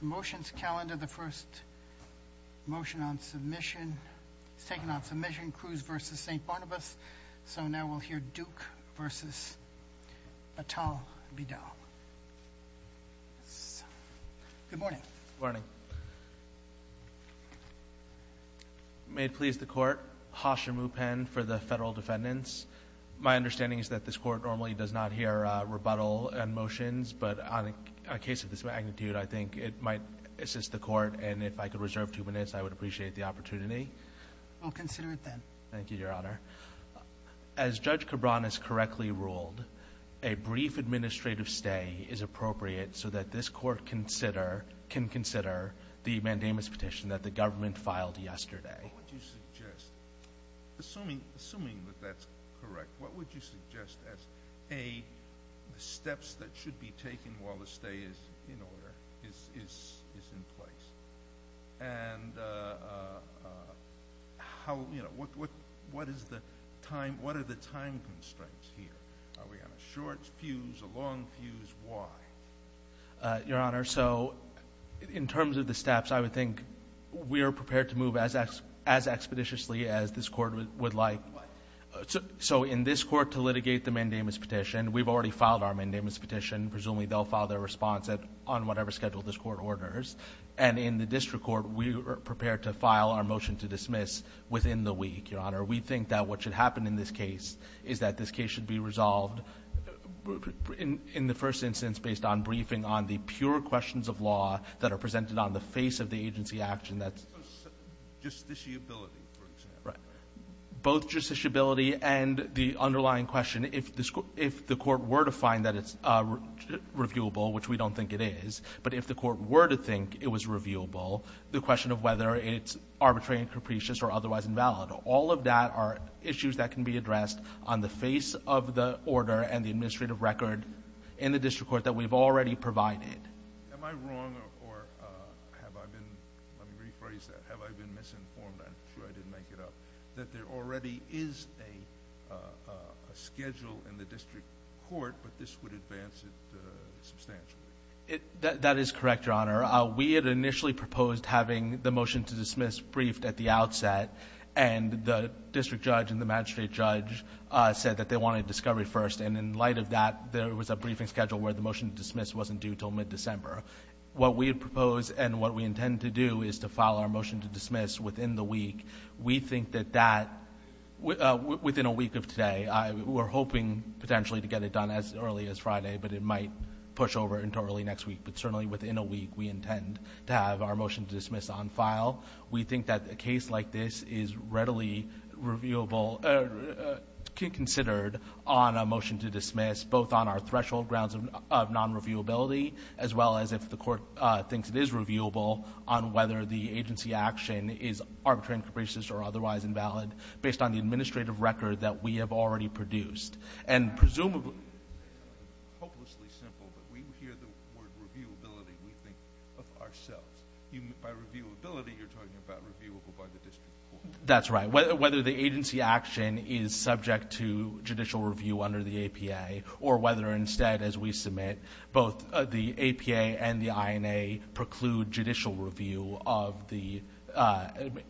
The motions calendar the first motion on submission it's taken on submission Cruz versus St. Barnabas so now we'll hear Duke versus Batal Bidal. Good morning. Morning. May it please the court Hasha Mupen for the federal defendants my understanding is that this court normally does not hear rebuttal and it might assist the court and if I could reserve two minutes I would appreciate the opportunity. I'll consider it then. Thank you your honor. As Judge Cabran has correctly ruled a brief administrative stay is appropriate so that this court consider can consider the mandamus petition that the government filed yesterday. What would you suggest? Assuming that that's correct what would you suggest as a steps that should be taken while the stay is in order is in place and how you know what what is the time what are the time constraints here? Are we on a short fuse, a long fuse, why? Your honor so in terms of the steps I would think we are prepared to move as expeditiously as this court would like so in this court to litigate the mandamus petition we've already filed our mandamus petition presumably they'll file their response that on whatever schedule this court orders and in the district court we are prepared to file our motion to dismiss within the week your honor we think that what should happen in this case is that this case should be resolved in the first instance based on briefing on the pure questions of law that are presented on the face of the agency action that's justiciability for example. Both justiciability and the underlying question if the court were to find that it's reviewable which we don't think it is but if the court were to think it was reviewable the question of whether it's arbitrary and capricious or otherwise invalid all of that are issues that can be addressed on the face of the order and the administrative record in the district court that we've already provided that there already is a schedule in the district court but this would advance it substantially it that is correct your honor we had initially proposed having the motion to dismiss briefed at the outset and the district judge and the magistrate judge said that they wanted discovery first and in light of that there was a briefing schedule where the motion to dismiss wasn't due till mid-December what we propose and what we intend to do is to follow our motion to dismiss within the week we think that that within a week of today we're hoping potentially to get it done as early as Friday but it might push over into early next week but certainly within a week we intend to have our motion to dismiss on file we think that a case like this is considered on a motion to dismiss both on our threshold grounds of non reviewability as well as if the court thinks it is reviewable on whether the agency action is arbitrary and capricious or otherwise invalid based on the administrative record that we have already produced and presumably hopelessly simple but we hear the word reviewability we think of ourselves by reviewability you're talking about reviewable by the district court that's right whether the agency action is subject to judicial review under the APA or whether instead as we submit both the APA and the INA preclude judicial review of the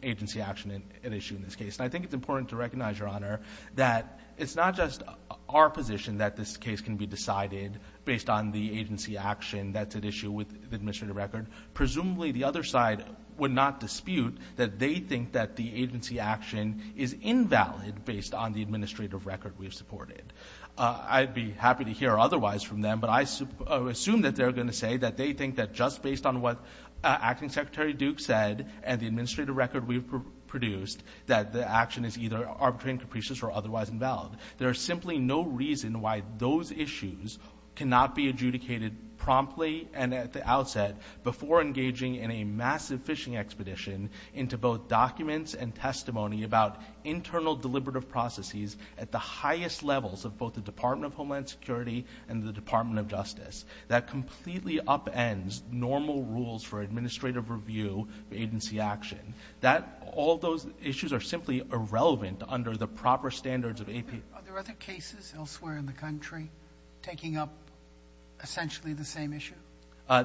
agency action and issue in this case I think it's important to recognize your honor that it's not just our position that this case can be decided based on the agency action that's at issue with the administrative record presumably the other side would not dispute that they think that the agency action is invalid based on the administrative record we've supported I'd be happy to hear otherwise from them but I assume that they're going to say that they think that just based on what Acting Secretary Duke said and the administrative record we've produced that the action is either arbitrary and capricious or otherwise invalid there is simply no reason why those issues cannot be adjudicated promptly and at the outset before engaging in a massive fishing expedition into both documents and testimony about internal deliberative processes at the highest levels of both the Department of Homeland Security and the Department of Justice that completely upends normal rules for all those issues are simply irrelevant under the proper standards of AP cases elsewhere in the country taking up essentially the same issue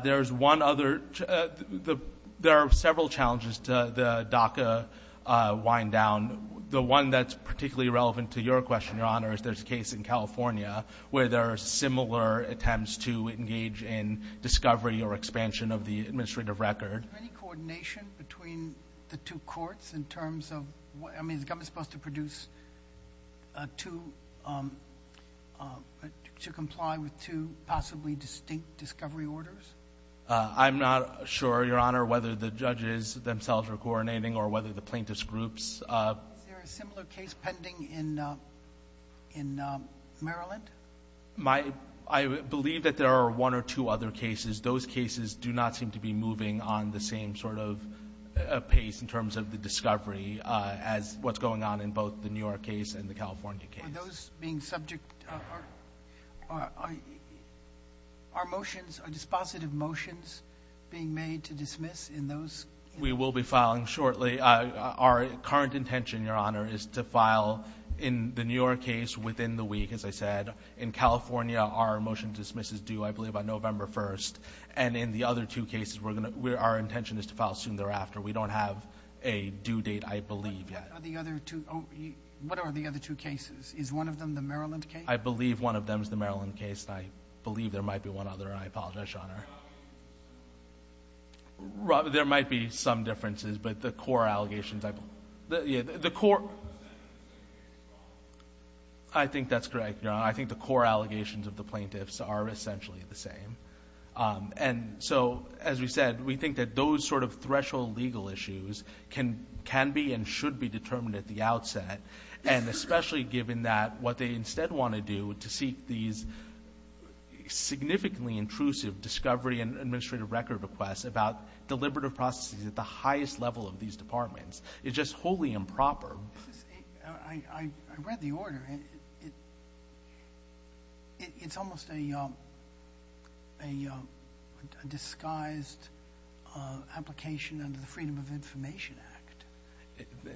there's one other the there are several challenges to the DACA wind down the one that's particularly relevant to your question your honor is there's a case in California where there are similar attempts to engage in discovery or between the two courts in terms of what I mean the government supposed to produce to to comply with two possibly distinct discovery orders I'm not sure your honor whether the judges themselves are coordinating or whether the plaintiffs groups in Maryland my I believe that there are one or two other cases those cases do not seem to be moving on the same sort of pace in terms of the discovery as what's going on in both the New York case and the California case those being subject our motions are dispositive motions being made to dismiss in those we will be filing shortly our current intention your honor is to file in the New York case within the week as I said in California our motion dismisses do I believe on November 1st and in the other two cases we're gonna where our intention is to file soon thereafter we don't have a due date I believe the other two cases is one of them the Maryland I believe one of them is the Maryland case I believe there might be one other I apologize your honor there might be some differences but the core allegations I think that's correct I think the core allegations of the plaintiffs are essentially the same and so as we said we think that those sort of threshold legal issues can can be and should be determined at the outset and especially given that what they instead want to do to seek these significantly intrusive discovery and administrative record requests about deliberative processes at the highest level of these departments it's just wholly improper I read the order it it's almost a you know a disguised application under the Freedom of Information Act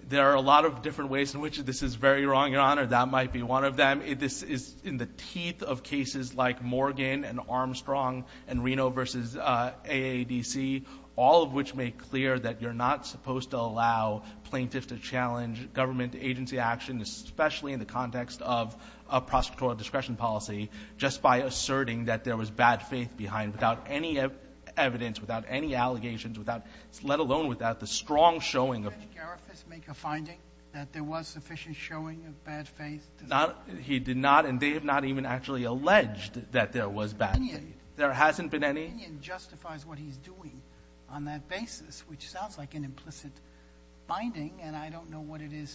there are a lot of different ways in which this is very wrong your honor that might be one of them if this is in the teeth of cases like Morgan and Armstrong and Reno versus AADC all of which make clear that you're not supposed to allow plaintiffs to challenge government agency action especially in the context of a prosecutorial discretion policy just by asserting that there was bad faith behind without any evidence without any allegations without let alone without the strong showing of finding that there was sufficient showing of bad faith not he did not and they have not even actually alleged that there was bad there hasn't been any justifies what he's doing on that basis which sounds like an implicit binding and I don't know what it is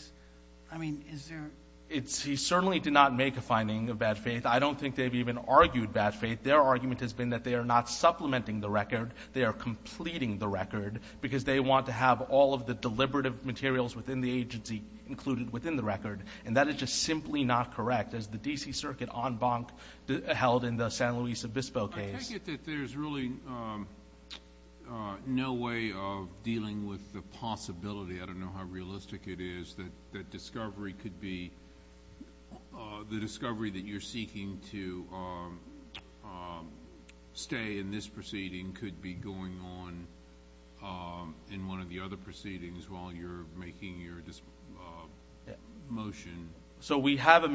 I mean is there it's he certainly did not make a finding of bad faith I don't think they've even argued bad faith their argument has been that they are not supplementing the record they are completing the record because they want to have all of the deliberative materials within the agency included within the record and that is just simply not correct as the DC Circuit on held in the San Luis Obispo case there's really no way of dealing with the possibility I don't know how realistic it is that that discovery could be the discovery that you're seeking to stay in this proceeding could be going on in one of the other proceedings while you're making your motion so we have a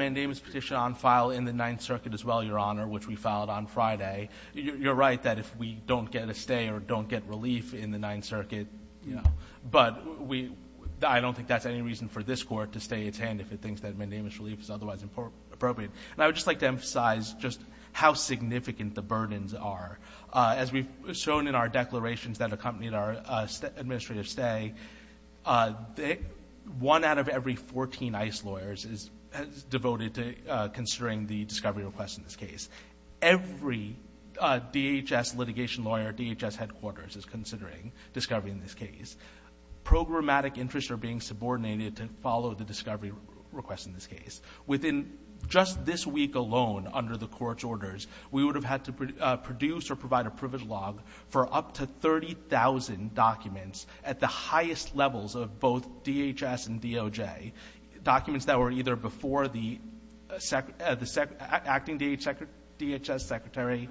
you're right that if we don't get a stay or don't get relief in the Ninth Circuit but we I don't think that's any reason for this court to stay its hand if it thinks that my name is relief is otherwise important appropriate I would just like to emphasize just how significant the burdens are as we've shown in our declarations that accompanied our administrative stay one out of every 14 ice lawyers is devoted to considering the discovery request in this case every DHS litigation lawyer DHS headquarters is considering discovery in this case programmatic interests are being subordinated to follow the discovery request in this case within just this week alone under the court's orders we would have had to produce or provide a privilege log for up to 30,000 documents at the highest levels of both DHS and DOJ documents that were either before the SEC at the SEC acting DH sector DHS secretary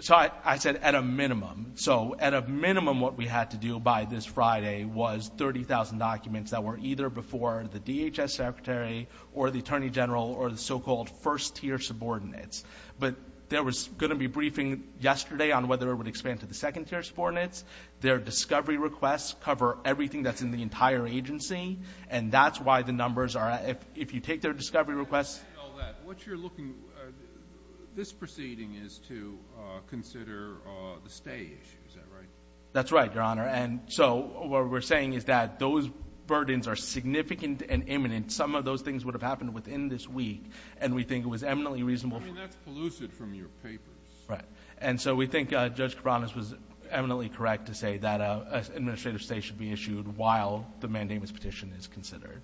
sorry I said at a minimum so at a minimum what we had to do by this Friday was 30,000 documents that were either before the DHS secretary or the Attorney General or the so-called first-tier subordinates but there was going to be a briefing yesterday on whether it would expand to the second-tier subordinates their discovery requests cover everything that's in the entire agency and that's why the numbers are if you take their discovery requests what you're looking this proceeding is to consider the stage that's right your honor and so what we're saying is that those burdens are significant and imminent some of those things would have happened within this week and we think it was eminently reasonable from your papers right and so we think judge Karanis was eminently correct to say that a administrative state should be issued while the mandamus petition is considered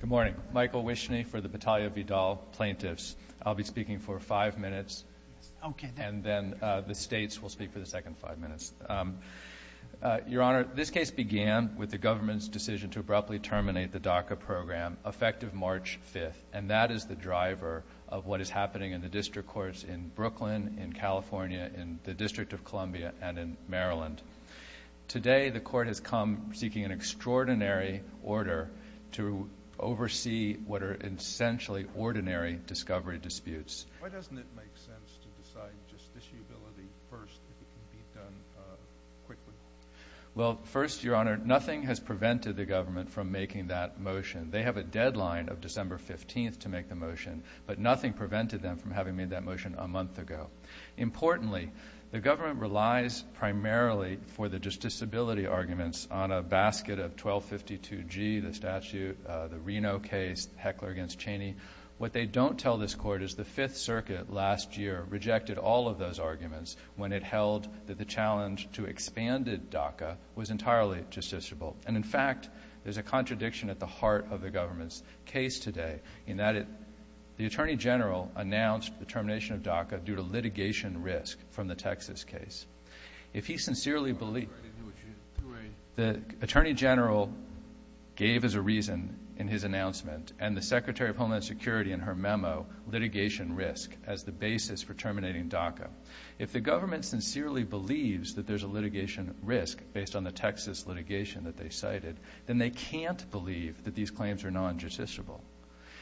good morning Michael wish me for the battalion of Vidal plaintiffs I'll be speaking for five minutes okay and then the states will speak for the second five minutes your honor this case began with the government's decision to abruptly terminate the DACA program effective March 5th and that is the driver of what is happening in the district courts in Brooklyn in California in the District of Columbia and in Maryland today the court has come seeking an extraordinary order to oversee what are essentially ordinary discovery disputes well first your honor nothing has prevented the government from making that motion they have a deadline of December 15th to make the motion but nothing prevented them from having made that motion a month ago importantly the government relies primarily for the just disability arguments on a basket of 1252 G the statute the Reno case heckler against Cheney what they don't tell this court is the Fifth Circuit last year rejected all of those arguments when it held that the challenge to expanded DACA was entirely justiciable and in fact there's a contradiction at the heart of the government's case today in that it the Attorney General announced the termination of DACA due to litigation risk from the Texas case if he sincerely believe the Attorney General gave as a reason in his announcement and the Secretary of Homeland Security in her memo litigation risk as the basis for terminating DACA if the government sincerely believes that there's a litigation risk based on the Texas litigation that they cited then they can't believe that these claims are non-judiciable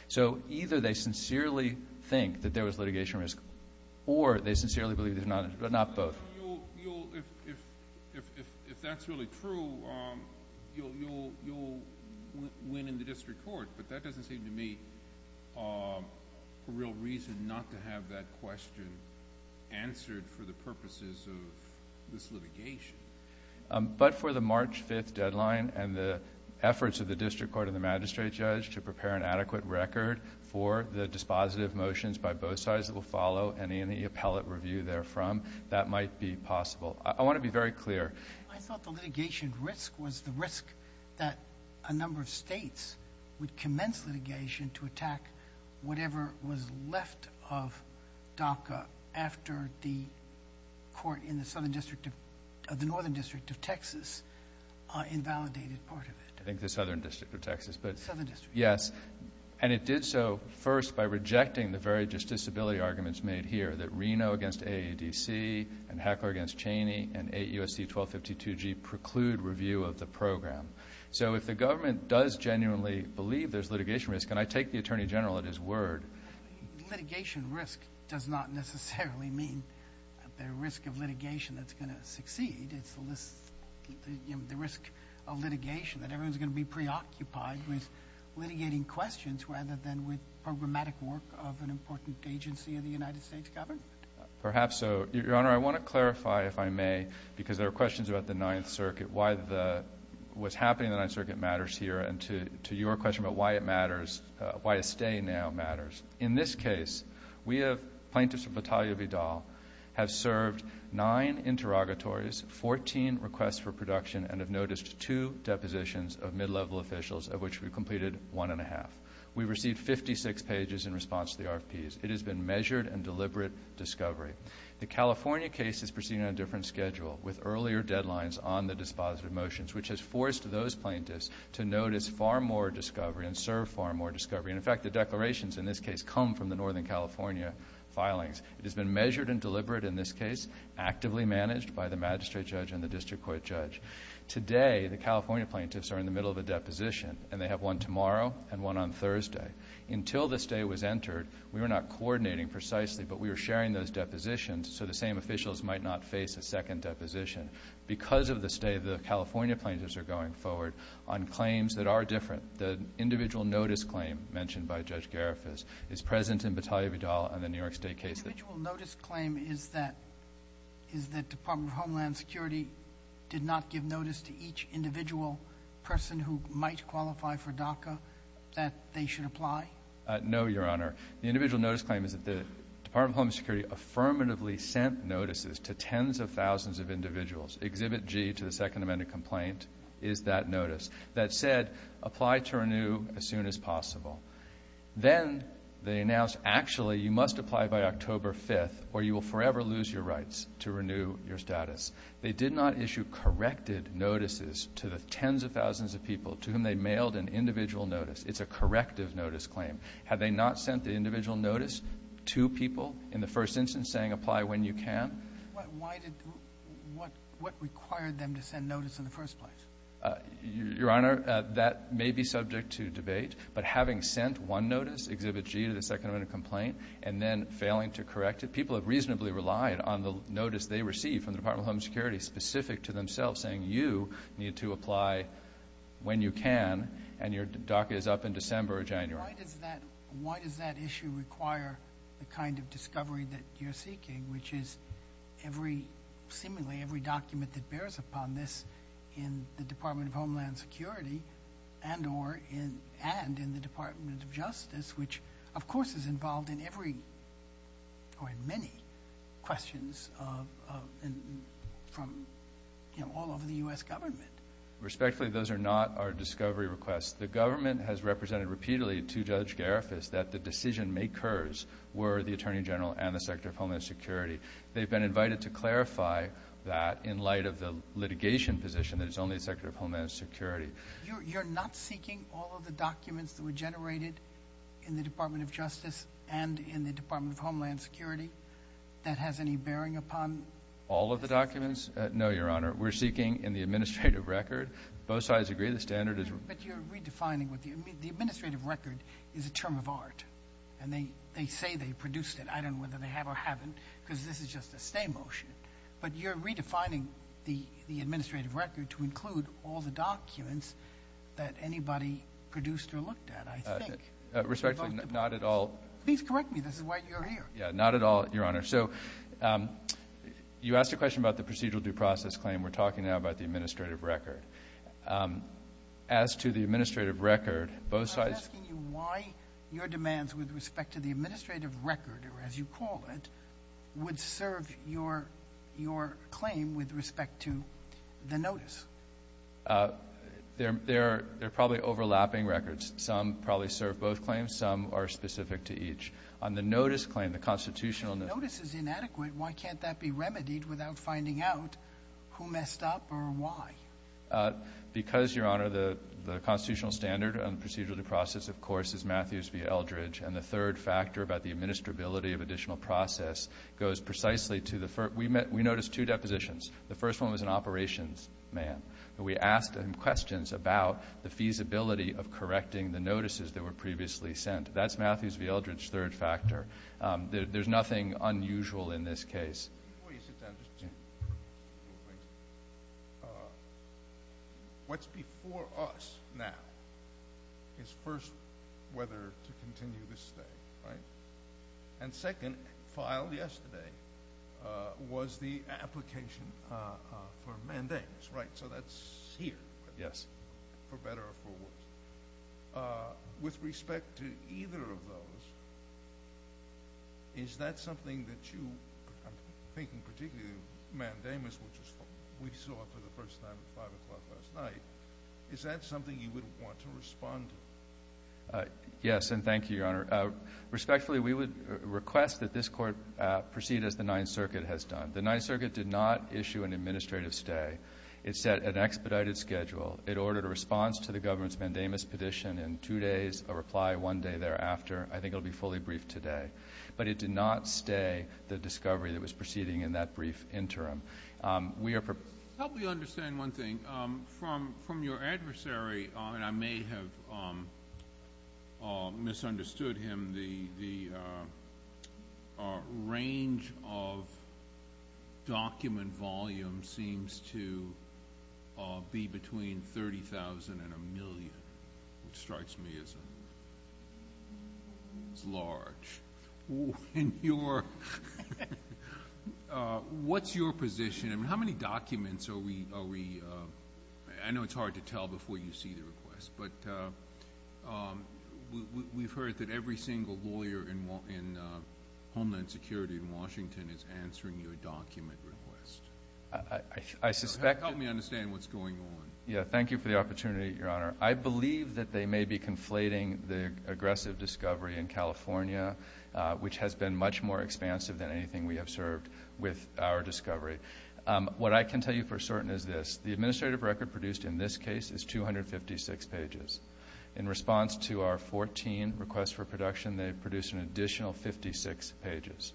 so either they sincerely think that there was litigation risk or they sincerely believe they're not but not both if that's really true you'll win in the district court but that doesn't seem to me a real reason not to have that question answered for the purposes of this litigation but for the March 5th deadline and the efforts of the district court of the magistrate judge to prepare an adequate record for the dispositive motions by both sides that will follow any in the appellate review there from that might be possible I want to be very clear I thought the litigation risk was the risk that a number of states would commence litigation to attack whatever was left of DACA after the court in the southern district of the northern district of Texas invalidated part of it I think the southern district of Texas but yes and it did so first by rejecting the very just disability arguments made here that Reno against a DC and heckler against Cheney and a USC 1252 G preclude review of the program so if the government does genuinely believe there's litigation risk and I take the attorney general at his word litigation risk does not necessarily mean the risk of litigation that's going to succeed it's the list the risk of litigation that everyone's going to be preoccupied with litigating questions rather than with programmatic work of an important agency of the United States government perhaps so your honor I want to clarify if I may because there are questions about the Ninth Circuit why the what's happening that I circuit matters here and to to your question about why it matters why to stay now matters in this case we have plaintiffs battalion Vidal have served nine interrogatories 14 requests for production and have noticed two depositions of mid-level officials of which we completed one-and-a-half we received 56 pages in response to the RPs it has been measured and deliberate discovery the California case is proceeding on different schedule with earlier deadlines on the dispositive motions which has forced those plaintiffs to notice far more discovery and serve far more discovery in fact the declarations in this case come from the northern California filings it has been measured and deliberate in this case actively managed by the magistrate judge and the district court judge today the and they have one tomorrow and one on Thursday until this day was entered we are not coordinating precisely but we're sharing those depositions so the same officials might not face a second deposition because of the state of the California plaintiffs are going forward on claims that are different the individual notice claim mentioned by judge Garifas is present in battalion Vidal and the New York State case notice claim is that is the Department of Homeland Security did not give notice to each individual person who might qualify for DACA that they should apply no your honor the individual notice claim is that the Department of Homeland Security affirmatively sent notices to tens of thousands of individuals exhibit G to the Second Amendment complaint is that notice that said apply to renew as soon as possible then they announced actually you must apply by October 5th or you will forever lose your rights to renew your status they did not issue corrected notices to the mailed an individual notice it's a corrective notice claim have they not sent the individual notice to people in the first instance saying apply when you can what required them to send notice in the first place your honor that may be subject to debate but having sent one notice exhibit G to the Second Amendment complaint and then failing to correct it people have reasonably relied on the notice they received from the Department of Homeland Security specific to apply when you can and your DACA is up in December or January. Why does that issue require the kind of discovery that you're seeking which is every seemingly every document that bears upon this in the Department of Homeland Security and or in and in the Department of Justice which of course is involved in every or in many questions from all over the US government? Respectfully those are not our discovery requests the government has represented repeatedly to Judge Garifas that the decision makers were the Attorney General and the Secretary of Homeland Security they've been invited to clarify that in light of the litigation position that it's only a Secretary of Homeland Security. You're not seeking all of the documents that were generated in the Department of Homeland Security that has any bearing upon? All of the documents? No your honor we're seeking in the administrative record both sides agree the standard is but you're redefining what the administrative record is a term of art and they they say they produced it I don't know whether they have or haven't because this is just a stay motion but you're redefining the the administrative record to include all the documents that anybody produced or looked at I think respectfully not at all. Please correct me this is why you're here. Yeah not at all your honor so you asked a question about the procedural due process claim we're talking about the administrative record as to the administrative record both sides. I was asking you why your demands with respect to the administrative record or as you call it would serve your your claim with respect to the notice? They're they're they're overlapping records some probably serve both claims some are specific to each on the notice claim the constitutional notice is inadequate why can't that be remedied without finding out who messed up or why? Because your honor the the constitutional standard and procedural due process of course is Matthews v. Eldridge and the third factor about the administrability of additional process goes precisely to the first we noticed two depositions the first one was an operations man we asked him questions about the feasibility of correcting the notices that were previously sent that's Matthews v. Eldridge third factor there's nothing unusual in this case. What's before us now is first whether to continue this stay right and second filed yesterday was the application for mandamus right so that's here yes for better or for worse with respect to either of those is that something that you I'm thinking particularly mandamus which we saw for the first time at 5 o'clock last night is that something you would want to respond to? Yes and thank you your honor respectfully we would request that this court proceed as the Ninth Circuit has done the Ninth Circuit did not issue an administrative stay it set an expedited schedule it ordered a response to the government's mandamus petition in two days a reply one day thereafter I think it'll be fully briefed today but it did not stay the discovery that was proceeding in that brief interim. Help me understand one thing from your adversary and I may have misunderstood him the range of document volume seems to be between 30,000 and a million which strikes me as a it's large in your what's your position and how many documents are we are we I know it's hard to tell before you see the request but we've heard that every single lawyer in homeland security in Washington is answering your document request I suspect help me understand what's going on yeah thank you for the opportunity your honor I believe that they may be conflating the aggressive discovery in California which has been much more expansive than anything we have served with our discovery what I can tell you for certain is this the record in this case is 256 pages in response to our 14 requests for production they produce an additional 56 pages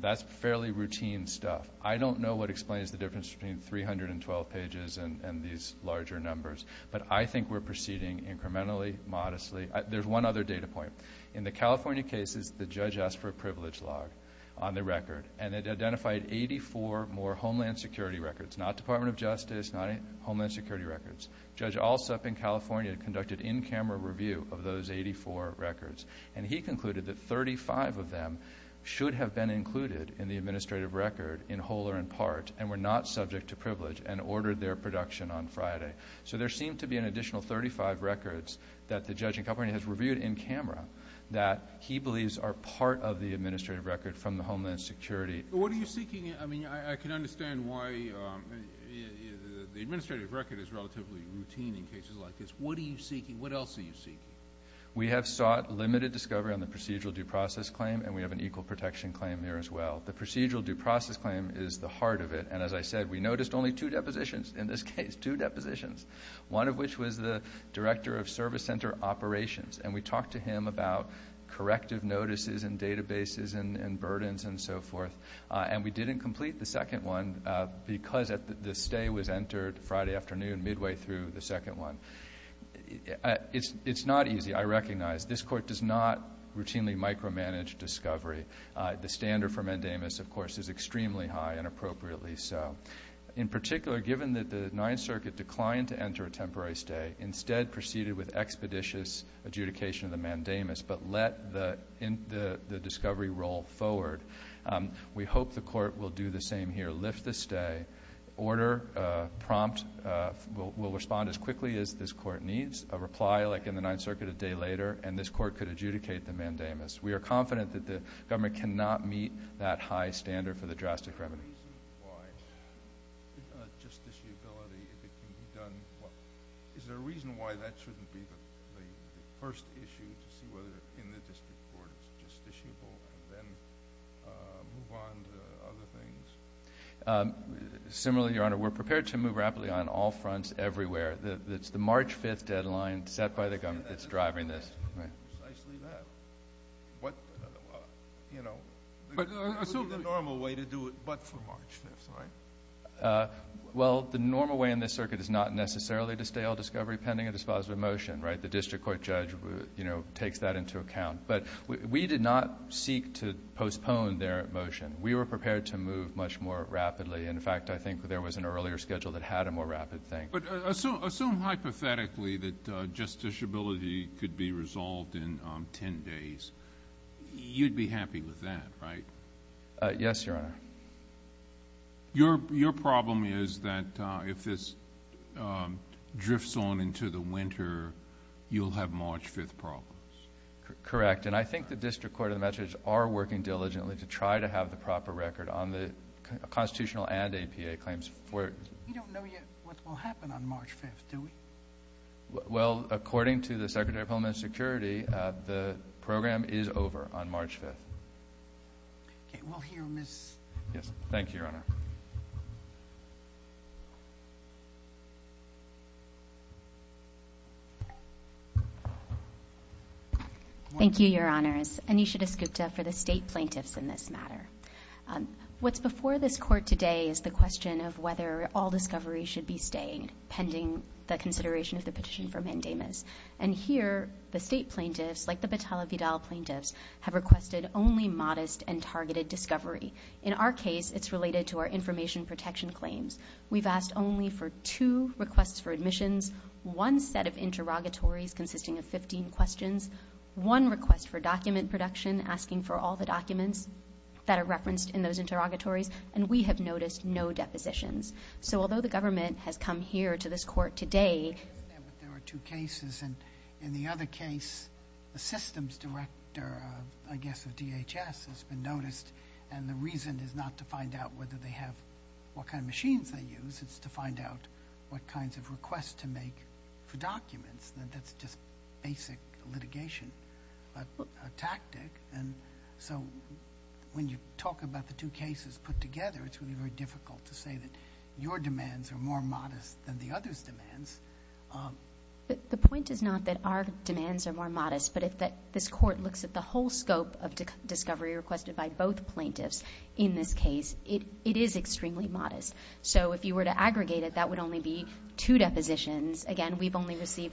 that's fairly routine stuff I don't know what explains the difference between 312 pages and these larger numbers but I think we're proceeding incrementally modestly there's one other data point in the California cases the judge asked for a privilege log on the record and it identified 84 more homeland security records not Department of Justice night Homeland Security records judge also up in California conducted in-camera review of those 84 records and he concluded that 35 of them should have been included in the administrative record in whole or in part and we're not subject to privilege and ordered their production on Friday so there seemed to be an additional 35 records that the judging company has reviewed in camera that he believes are part of the administrative record from Homeland Security what are you seeking I mean I can understand why the administrative record is relatively routine in cases like this what are you seeking what else are you seeking we have sought limited discovery on the procedural due process claim and we have an equal protection claim here as well the procedural due process claim is the heart of it and as I said we noticed only two depositions in this case two depositions one of which was the director of service center operations and we talked to him about corrective and so forth and we didn't complete the second one because at the stay was entered Friday afternoon midway through the second one it's it's not easy I recognize this court does not routinely micromanage discovery the standard for mandamus of course is extremely high and appropriately so in particular given that the Ninth Circuit declined to enter a temporary stay instead proceeded with expeditious adjudication of the mandamus but let the in the the discovery roll forward we hope the court will do the same here lift the stay order prompt will respond as quickly as this court needs a reply like in the Ninth Circuit a day later and this court could adjudicate the mandamus we are confident that the government cannot meet that high standard for the drastic remedy is there a reason why that shouldn't be the first issue to see whether in the similarly your honor we're prepared to move rapidly on all fronts everywhere that's the March 5th deadline set by the government that's driving this well the normal way in this circuit is not necessarily to stay all discovery pending a dispositive motion right the district court judge you know takes that into account but we did not seek to postpone their motion we were prepared to move much more rapidly in fact I think there was an earlier schedule that had a more rapid thing but assume hypothetically that justiciability could be resolved in 10 days you'd be happy with that right yes your honor your problem is that if this drifts on into the winter you'll have March 5th correct and I think the district court of measures are working diligently to try to have the proper record on the constitutional and APA claims well according to the Secretary of Homeland Security the program is over on March 5th yes thank you your honor thank you your honors and you should have scooped up for the state plaintiffs in this matter what's before this court today is the question of whether all discovery should be staying pending the consideration of the petition for mandamus and here the state plaintiffs like the batalla Vidal plaintiffs have requested only modest and targeted discovery in our case it's related to our information protection claims we've asked only for two requests for questions one request for document production asking for all the documents that are referenced in those interrogatories and we have noticed no depositions so although the government has come here to this court today there are two cases and in the other case the systems director I guess of DHS has been noticed and the reason is not to find out whether they have what kind of machines they use it's to find out what kinds of requests to make for documents that's just basic litigation but a tactic and so when you talk about the two cases put together it's really very difficult to say that your demands are more modest than the others demands the point is not that our demands are more modest but if that this court looks at the whole scope of discovery requested by both plaintiffs in this case it it is extremely modest so if you were to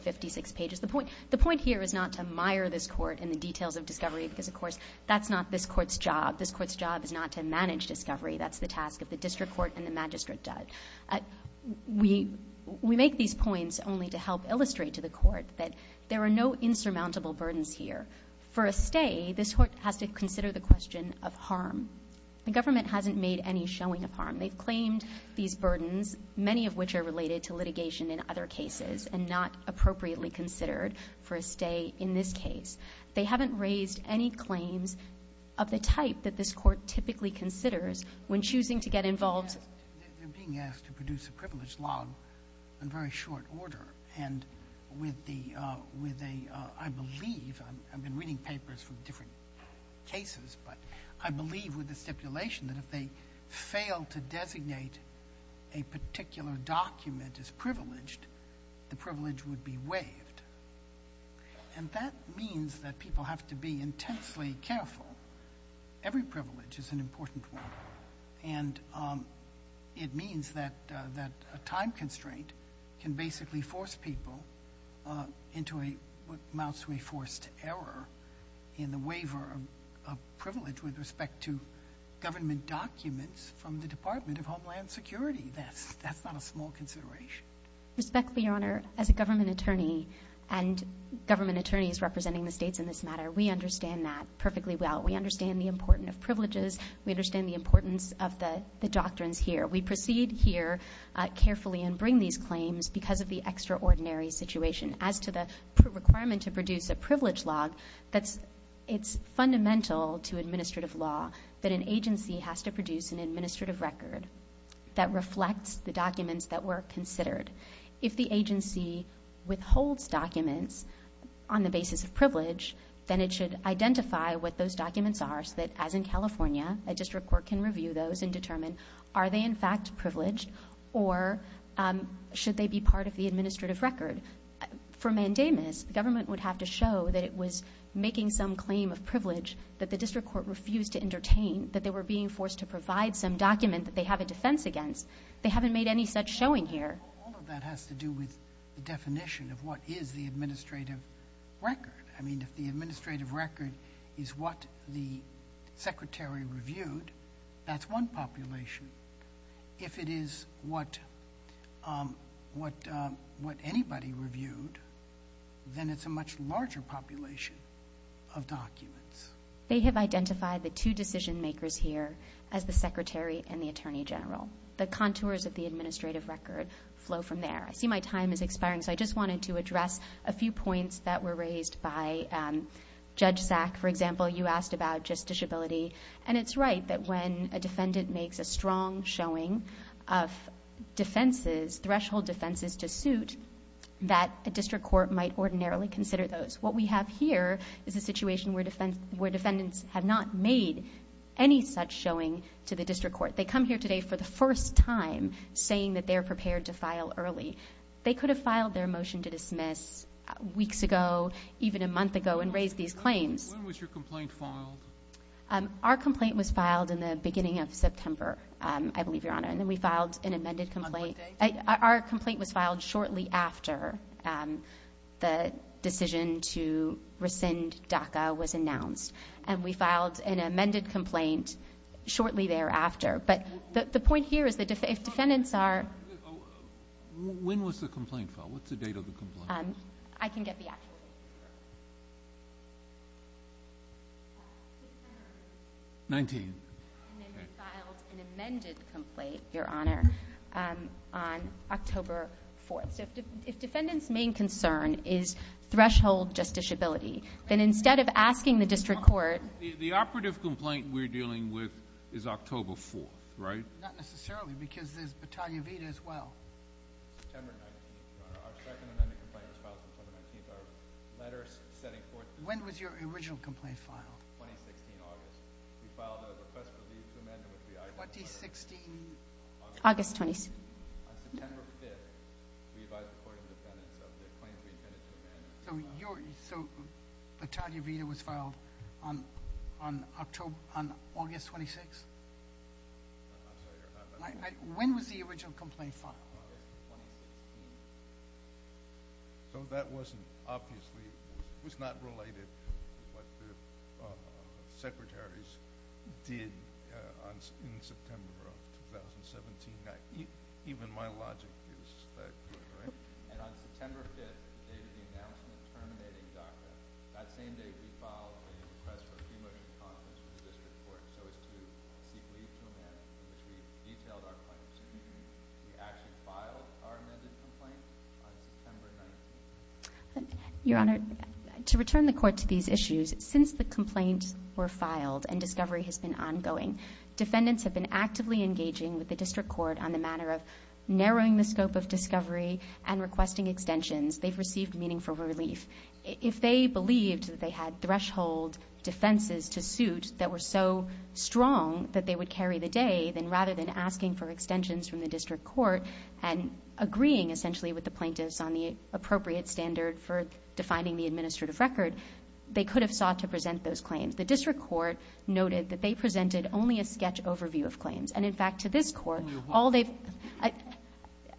56 pages the point the point here is not to mire this court in the details of discovery because of course that's not this court's job this court's job is not to manage discovery that's the task of the district court and the magistrate does we we make these points only to help illustrate to the court that there are no insurmountable burdens here for a stay this court has to consider the question of harm the government hasn't made any showing of harm they've claimed these burdens many of which are related to litigation in other cases and not appropriately considered for a stay in this case they haven't raised any claims of the type that this court typically considers when choosing to get involved they're being asked to produce a privilege log in very short order and with the with a I believe I've been reading papers from different cases but I believe with the stipulation that if they fail to designate a particular document is be waived and that means that people have to be intensely careful every privilege is an important one and it means that that a time constraint can basically force people into a what amounts to a forced error in the waiver of privilege with respect to government documents from the Department of Homeland Security that's that's not a small consideration respectfully honor as a government attorney and government attorneys representing the states in this matter we understand that perfectly well we understand the importance of privileges we understand the importance of the doctrines here we proceed here carefully and bring these claims because of the extraordinary situation as to the requirement to produce a privilege log that's it's fundamental to administrative law that an agency has to produce an administrative record that reflects the documents that were considered if the agency withholds documents on the basis of privilege then it should identify what those documents are so that as in California a district court can review those and determine are they in fact privileged or should they be part of the administrative record for mandamus government would have to show that it was making some claim of privilege that the district court refused to entertain that they were being forced to provide some document that they have defense against they haven't made any such showing here that has to do with the definition of what is the administrative record I mean if the administrative record is what the secretary reviewed that's one population if it is what what what anybody reviewed then it's a much larger population of documents they have identified the two decision-makers here as the secretary and the Attorney General the contours of the administrative record flow from there I see my time is expiring so I just wanted to address a few points that were raised by Judge Sack for example you asked about just disability and it's right that when a defendant makes a strong showing of defenses threshold defenses to suit that a district court might ordinarily consider those what we have here is a situation where defense where defendants have not made any such showing to the district court they come here today for the first time saying that they are prepared to file early they could have filed their motion to dismiss weeks ago even a month ago and raise these claims our complaint was filed in the beginning of September and we filed an amended complaint our complaint was filed shortly after the decision to rescind DACA was announced and we filed an amended complaint shortly thereafter but the point here is that if defendants are when was the complaint file what's the date of the complaint I can get the actual 19 and then we filed an amended complaint your honor on October 4th if defendants main concern is threshold just disability then instead of asking the district court the operative complaint we're dealing with is October 4th right when was your original complaint filed we filed a request for leave to amend the 2016 August 20th we advised the court of the defendants of the claims we intended to amend so your so the Talia Vida was filed on on October on August 26th when was the original complaint filed so that wasn't obviously was not related secretaries did in September of 2017 even my logic your honor to return the court to these issues since the complaints were filed and discovery has been ongoing defendants have been actively engaging with the district court on the matter of narrowing the scope of discovery and requesting extensions they've received meaningful relief if they believed that they had threshold defenses to suit that were so strong that they would carry the rather than asking for extensions from the district court and agreeing essentially with the plaintiffs on the appropriate standard for defining the administrative record they could have sought to present those claims the district court noted that they presented only a sketch overview of claims and in fact to this court all day I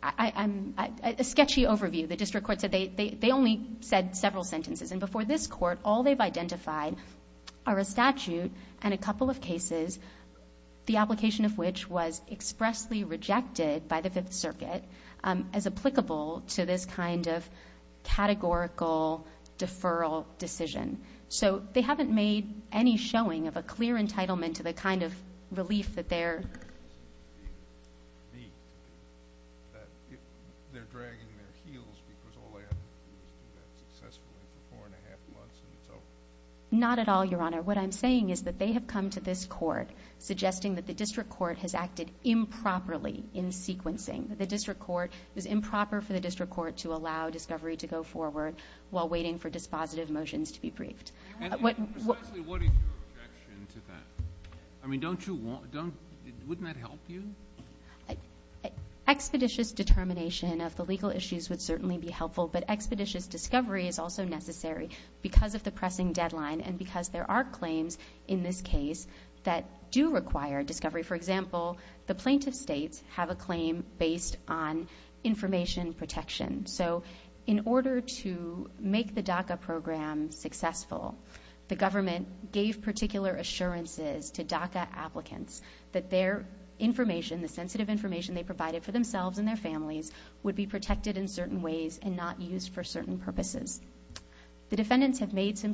I'm a sketchy overview the district court so they they only said several sentences and before this court all they've are a statute and a couple of cases the application of which was expressly rejected by the Fifth Circuit as applicable to this kind of categorical deferral decision so they haven't made any showing of a clear entitlement to the kind of relief that they're not at all your honor what I'm saying is that they have come to this court suggesting that the district court has acted improperly in sequencing the district court is improper for the district court to allow discovery to go forward while waiting for dispositive motions to be briefed what what I mean don't you want don't wouldn't that help you expeditious determination of the legal issues would certainly be helpful but the pressing deadline and because there are claims in this case that do require discovery for example the plaintiff states have a claim based on information protection so in order to make the DACA program successful the government gave particular assurances to DACA applicants that their information the sensitive information they provided for themselves and their families would be protected in some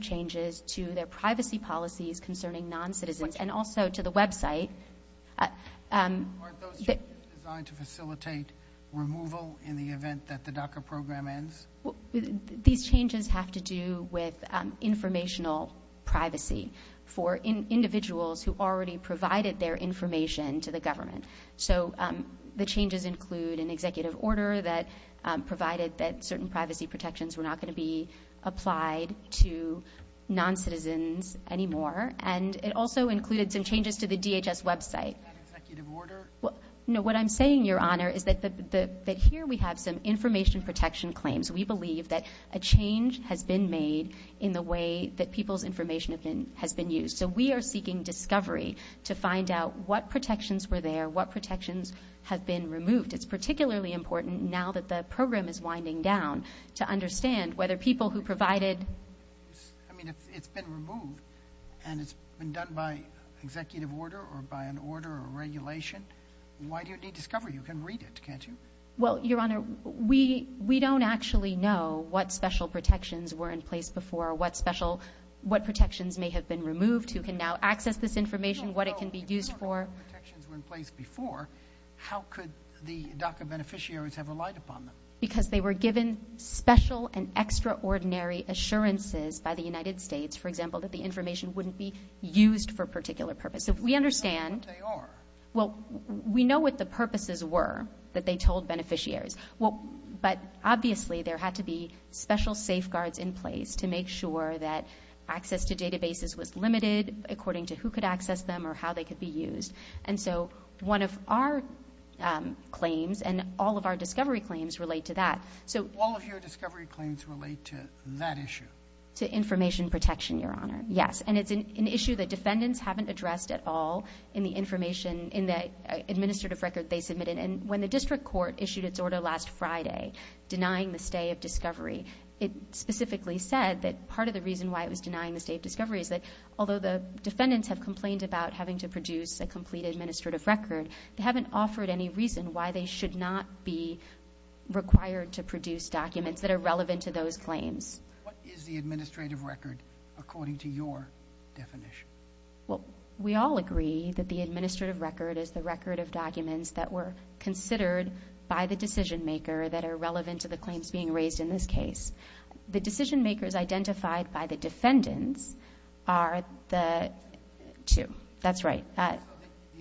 changes to their privacy policies concerning non-citizens and also to the website to facilitate removal in the event that the DACA program ends these changes have to do with informational privacy for individuals who already provided their information to the government so the changes include an executive order that provided that certain privacy protections were not going to be applied to non-citizens anymore and it also included some changes to the DHS website what I'm saying your honor is that here we have some information protection claims we believe that a change has been made in the way that people's information has been used so we are seeking discovery to find out what protections were there what protections have been removed it's been done by executive order or by an order or regulation why do you need discovery you can read it can't you well your honor we we don't actually know what special protections were in place before what special what protections may have been removed who can now access this information what it can be used for how could the beneficiaries have relied upon them because they were given special and extraordinary assurances by the United States for example that the information wouldn't be used for a particular purpose if we understand well we know what the purposes were that they told beneficiaries well but obviously there had to be special safeguards in place to make sure that access to databases was limited according to who could access them or how they could be used and so one of our claims and all of our discovery claims relate to that so all of your discovery claims relate to that issue to information protection your honor yes and it's an issue that defendants haven't addressed at all in the information in the administrative record they submitted and when the district court issued its order last Friday denying the stay of discovery it specifically said that part of the reason why it was denying the state discovery is that although the defendants have complained about having to produce a complete administrative record they haven't offered any reason why they should not be required to produce documents that are relevant to those claims what is the administrative record according to your definition well we all agree that the administrative record is the record of documents that were considered by the decision-maker that are relevant to the claims being raised in this case the decision-makers identified by the defendants are the two that's right the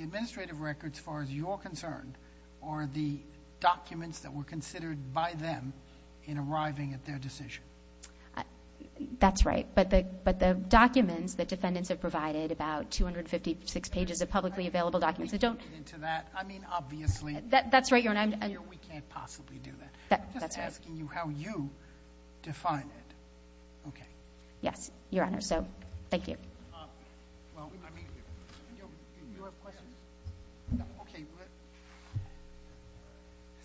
administrative records far as you're concerned or the documents that were considered by them in arriving at their decision that's right but the but the documents that defendants have provided about 256 pages of publicly available documents that don't into that I mean obviously that that's right your name and we can't possibly do that that's asking you how you define it okay yes your honor so thank you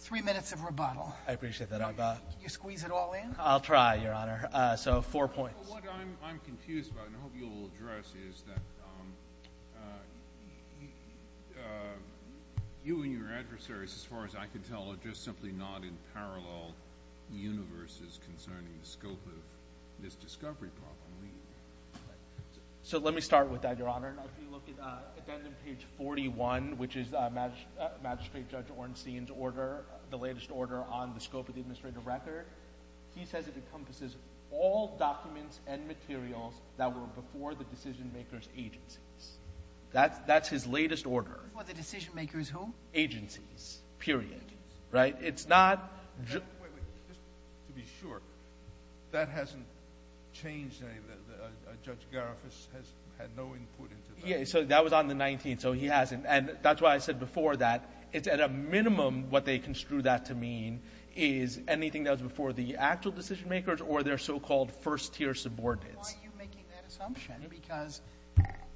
three minutes of rebuttal I appreciate that I thought you squeeze it all in I'll try your honor so four points you and your adversaries as far as I can tell it just simply not in parallel universes concerning the scope of this discovery problem so let me start with that your honor page 41 which is a match magistrate judge Ornstein's order the latest order on the scope of the administrative record he says it encompasses all documents and materials that were before the decision-makers agencies that's that's his latest order what the decision-makers who agencies period right it's not just to be sure that hasn't changed a judge Gariffas has had no input yeah so that was on the 19th so he hasn't and that's why I said before that it's at a minimum what they construe that to mean is anything that was before the actual decision-makers or their so-called first-tier subordinates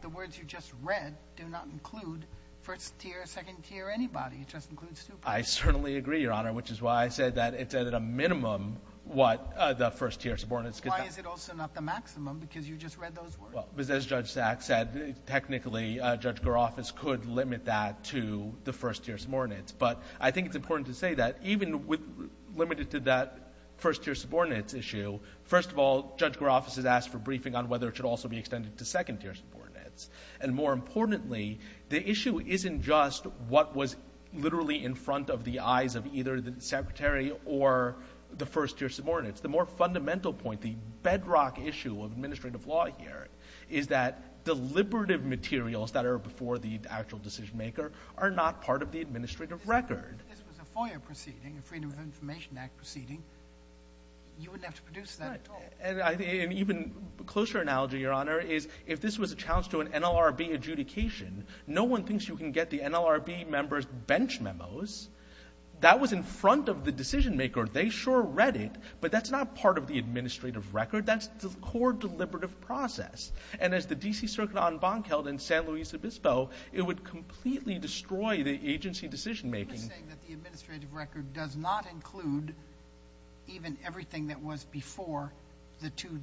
the words you just read do not include first-tier second-tier anybody it just includes I certainly agree your honor which is why I said that it's at a minimum what the first-tier subordinates could also not the maximum because you just read those words as judge sack said technically judge Gariffas could limit that to the first-tier subordinates but I think it's important to say that even with limited to that first-tier subordinates issue first of all judge Gariffas has asked for briefing on whether it should also be extended to second-tier subordinates and more importantly the issue isn't just what was literally in front of the eyes of either the secretary or the first-tier subordinates the more fundamental point the bedrock issue of administrative law here is that deliberative materials that are before the actual decision-maker are not part of the administrative record even closer analogy your honor is if this was a challenge to an NLRB adjudication no one thinks you can get the NLRB members bench memos that was in front of the decision-maker they sure read it but that's not part of the administrative record that's the core deliberative process and as the DC Circuit on bonk held in San Luis Obispo it would completely destroy the agency decision-making does not include even everything that was before the two there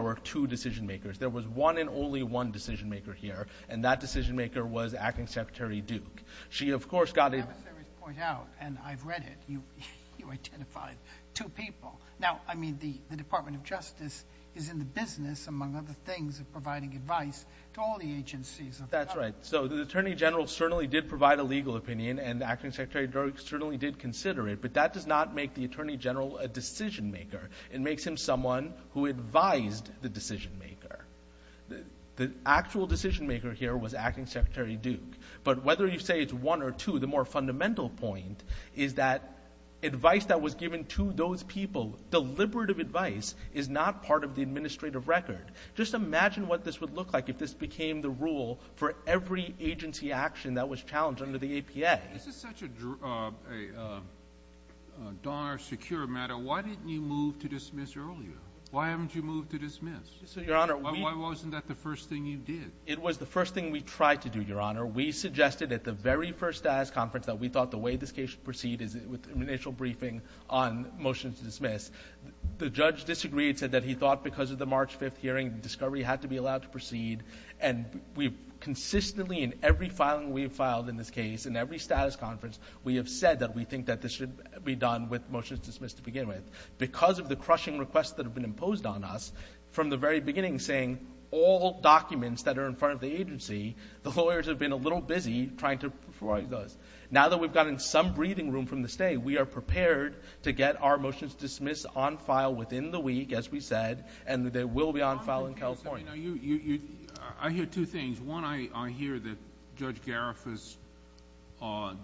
were two decision-makers there was one and only one decision-maker here and that decision-maker was acting secretary Duke she of course got a point out and I've read it you you identified two people now I mean the Department of Justice is in the business among other things of providing advice to all the agencies that's right so the Attorney General certainly did provide a legal opinion and acting secretary certainly did consider it but that does not make the Attorney General a decision-maker it makes him someone who advised the decision-maker the actual decision-maker here was acting secretary Duke but whether you say it's one or two the more fundamental point is that advice that was given to those people deliberative advice is not part of the administrative record just imagine what this would look like if this became the rule for every agency action that was challenged under the APA this is such a secure matter why didn't you move to dismiss earlier why haven't you moved to dismiss so your honor why wasn't that the first thing you did it was the first thing we tried to do your honor we suggested at the very first as conference that we thought the way this case proceed is with initial briefing on motions to dismiss the judge disagreed said that he thought because of the March 5th hearing discovery had to be allowed to proceed and we've consistently in every filing we filed in this case in every status conference we have said that we think that this should be done with motions dismissed to begin with because of the crushing requests that have been imposed on us from the very beginning saying all documents that are in front of the agency the lawyers have been a little busy trying to provide those now that we've got in some breathing room from the state we are prepared to get our motions dismiss on file within the week as we said and they will be on file in California you I hear two things one I hear that judge Gariffas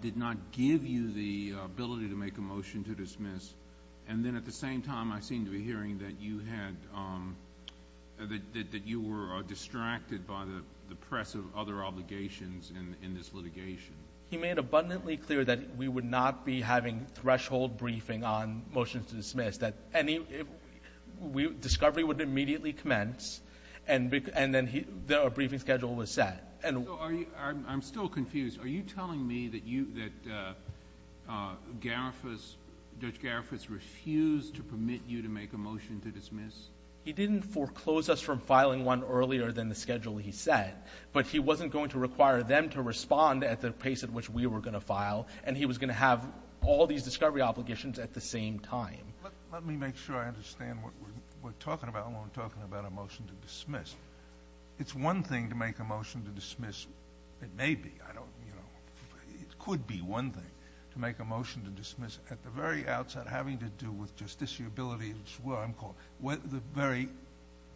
did not give you the ability to make a motion to dismiss and then at the same time I seem to be hearing that you had that you were distracted by the the press of other obligations and in this litigation he made abundantly clear that we would not be having threshold briefing on motions to dismiss that any we discovery would immediately commence and and then he there are briefing schedule was set and I'm still confused are you telling me that you that Gariffas judge Gariffas refused to permit you to make a motion to dismiss he didn't foreclose us from filing one earlier than the schedule he said but he wasn't going to require them to respond at the pace at which we were going to file and he was going to have all these discovery obligations at the same time let me make sure I understand what we're talking about when we're talking about a motion to dismiss it's one thing to make a motion to dismiss it may be I don't you know it could be one thing to make a motion to dismiss at the very outset having to do with justiciability as well I'm called what the very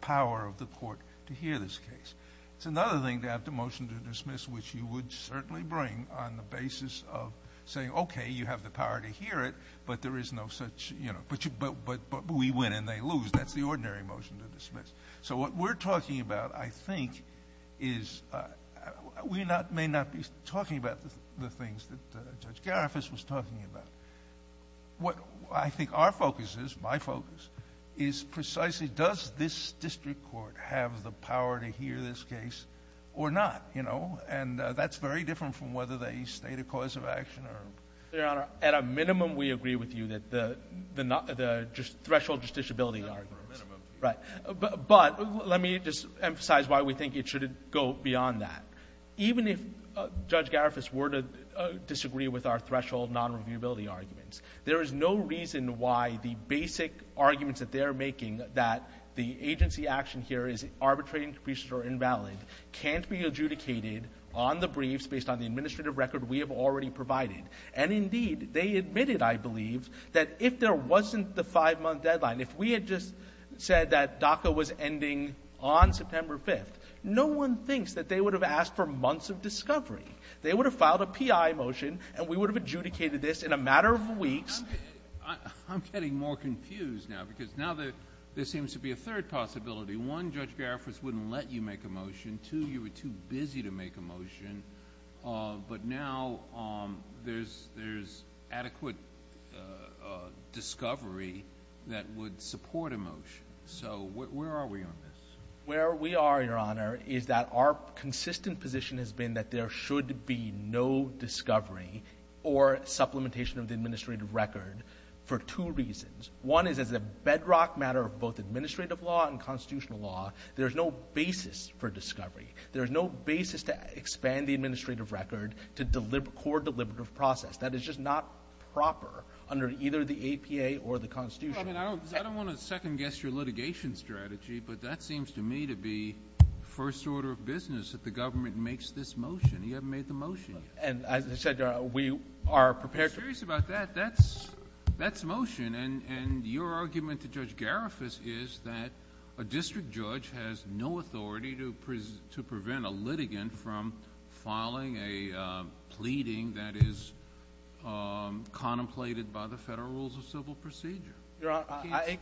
power of the court to hear this case it's another thing to have the motion to dismiss which you would certainly bring on the basis of saying okay you have the power to hear it but there is no such you know but you but but but we win and they lose that's the ordinary motion to dismiss so what we're talking about I think is we not may not be talking about the things that judge Gariffas was talking about what I think our focus is my focus is precisely does this district court have the power to hear this case or not you know and that's very different from whether they state a cause of action or at a minimum we agree with you that the the not the threshold justiciability right but let me just emphasize why we think it should go beyond that even if judge Gariffas were to disagree with our threshold non reviewability arguments there is no reason why the basic arguments that they are making that the agency action here is arbitrary increased or invalid can't be adjudicated on the briefs based on the administrative record we have already provided and indeed they admitted I believe that if there wasn't the five-month deadline if we had just said that DACA was ending on September 5th no one thinks that they would have asked for months of discovery they would have filed a PI motion and we would have adjudicated this in a matter of weeks I'm getting more confused now because now that there seems to be a third possibility one judge Gariffas wouldn't let you make a motion to you were too busy to make a motion but now there's there's adequate discovery that would support a motion so where are we on this where we are your honor is that our consistent position has been that there should be no discovery or supplementation of the administrative record for two reasons one is as a bedrock matter of both administrative law and constitutional law there's no basis for discovery there's no basis to expand the administrative record to deliver core deliberative process that is just not proper under either the APA or the Constitution I don't want to second-guess your litigation strategy but that seems to me to be first order of business that the government makes this motion you haven't made the motion and as I said we are prepared about that that's that's motion and and your argument to judge Gariffas is that a district judge has no authority to present to prevent a litigant from filing a pleading that is contemplated by the federal rules of civil procedure I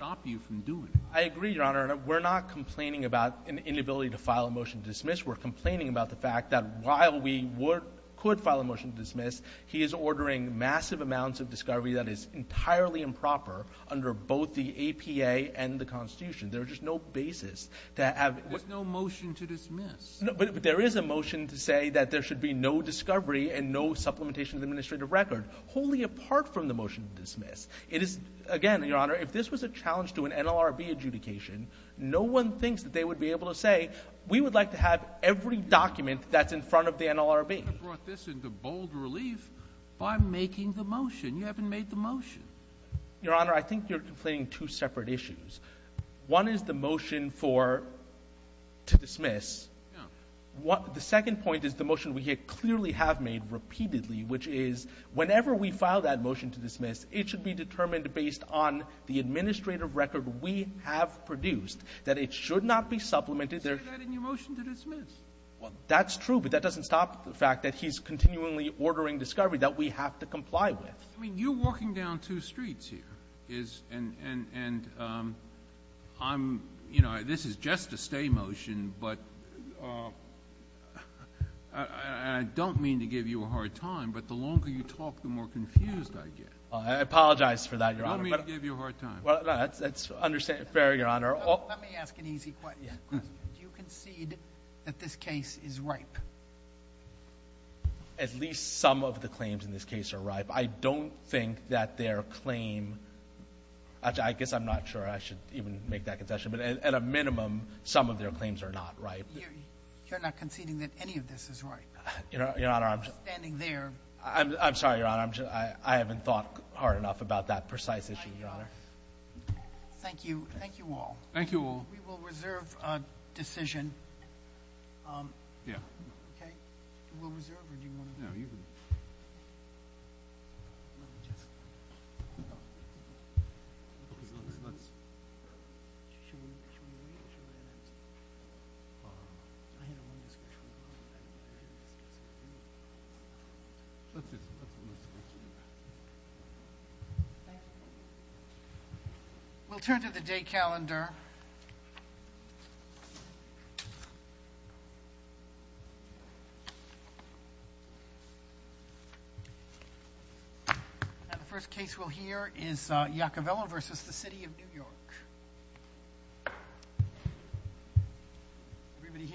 agree your honor and we're not complaining about an inability to file a motion to dismiss we're complaining about the fact that while we were could file a motion to dismiss he is ordering massive amounts of discovery that is entirely improper under both the APA and the Constitution there's just no basis to have no motion to dismiss but there is a motion to say that there should be no discovery and no supplementation administrative record wholly apart from the motion to dismiss it is again your honor if this was a challenge to an NLRB adjudication no one thinks that they would be able to say we would like to have every document that's in front of the NLRB I brought this into bold relief by making the motion you haven't made the motion your honor I think you're complaining two separate issues one is the motion for to dismiss what the second point is the motion we hit clearly have made repeatedly which is whenever we file that motion to dismiss it should be determined based on the administrative record we have produced that it should not be supplemented there that's true but that doesn't stop the fact that he's continually ordering discovery that we have to comply with I mean you're walking down two streets here is and and and I'm you know this is just a stay motion but I don't mean to give you a hard time but the longer you talk the more confused I get I apologize for that you're on me to give you a hard time well that's that's understand fair your honor you concede that this case is ripe at least some of the claims in this case are ripe I don't think that their claim I guess I'm not sure I should even make that concession but at a minimum some of their claims are not right you're not conceding that any of this is right you know your honor I'm standing there I'm sorry your honor I haven't thought hard enough about that precise issue your honor thank you thank you all thank you all we will reserve a decision yeah we'll turn to the day calendar the first case we'll hear is Jacobello versus the city of New York everybody here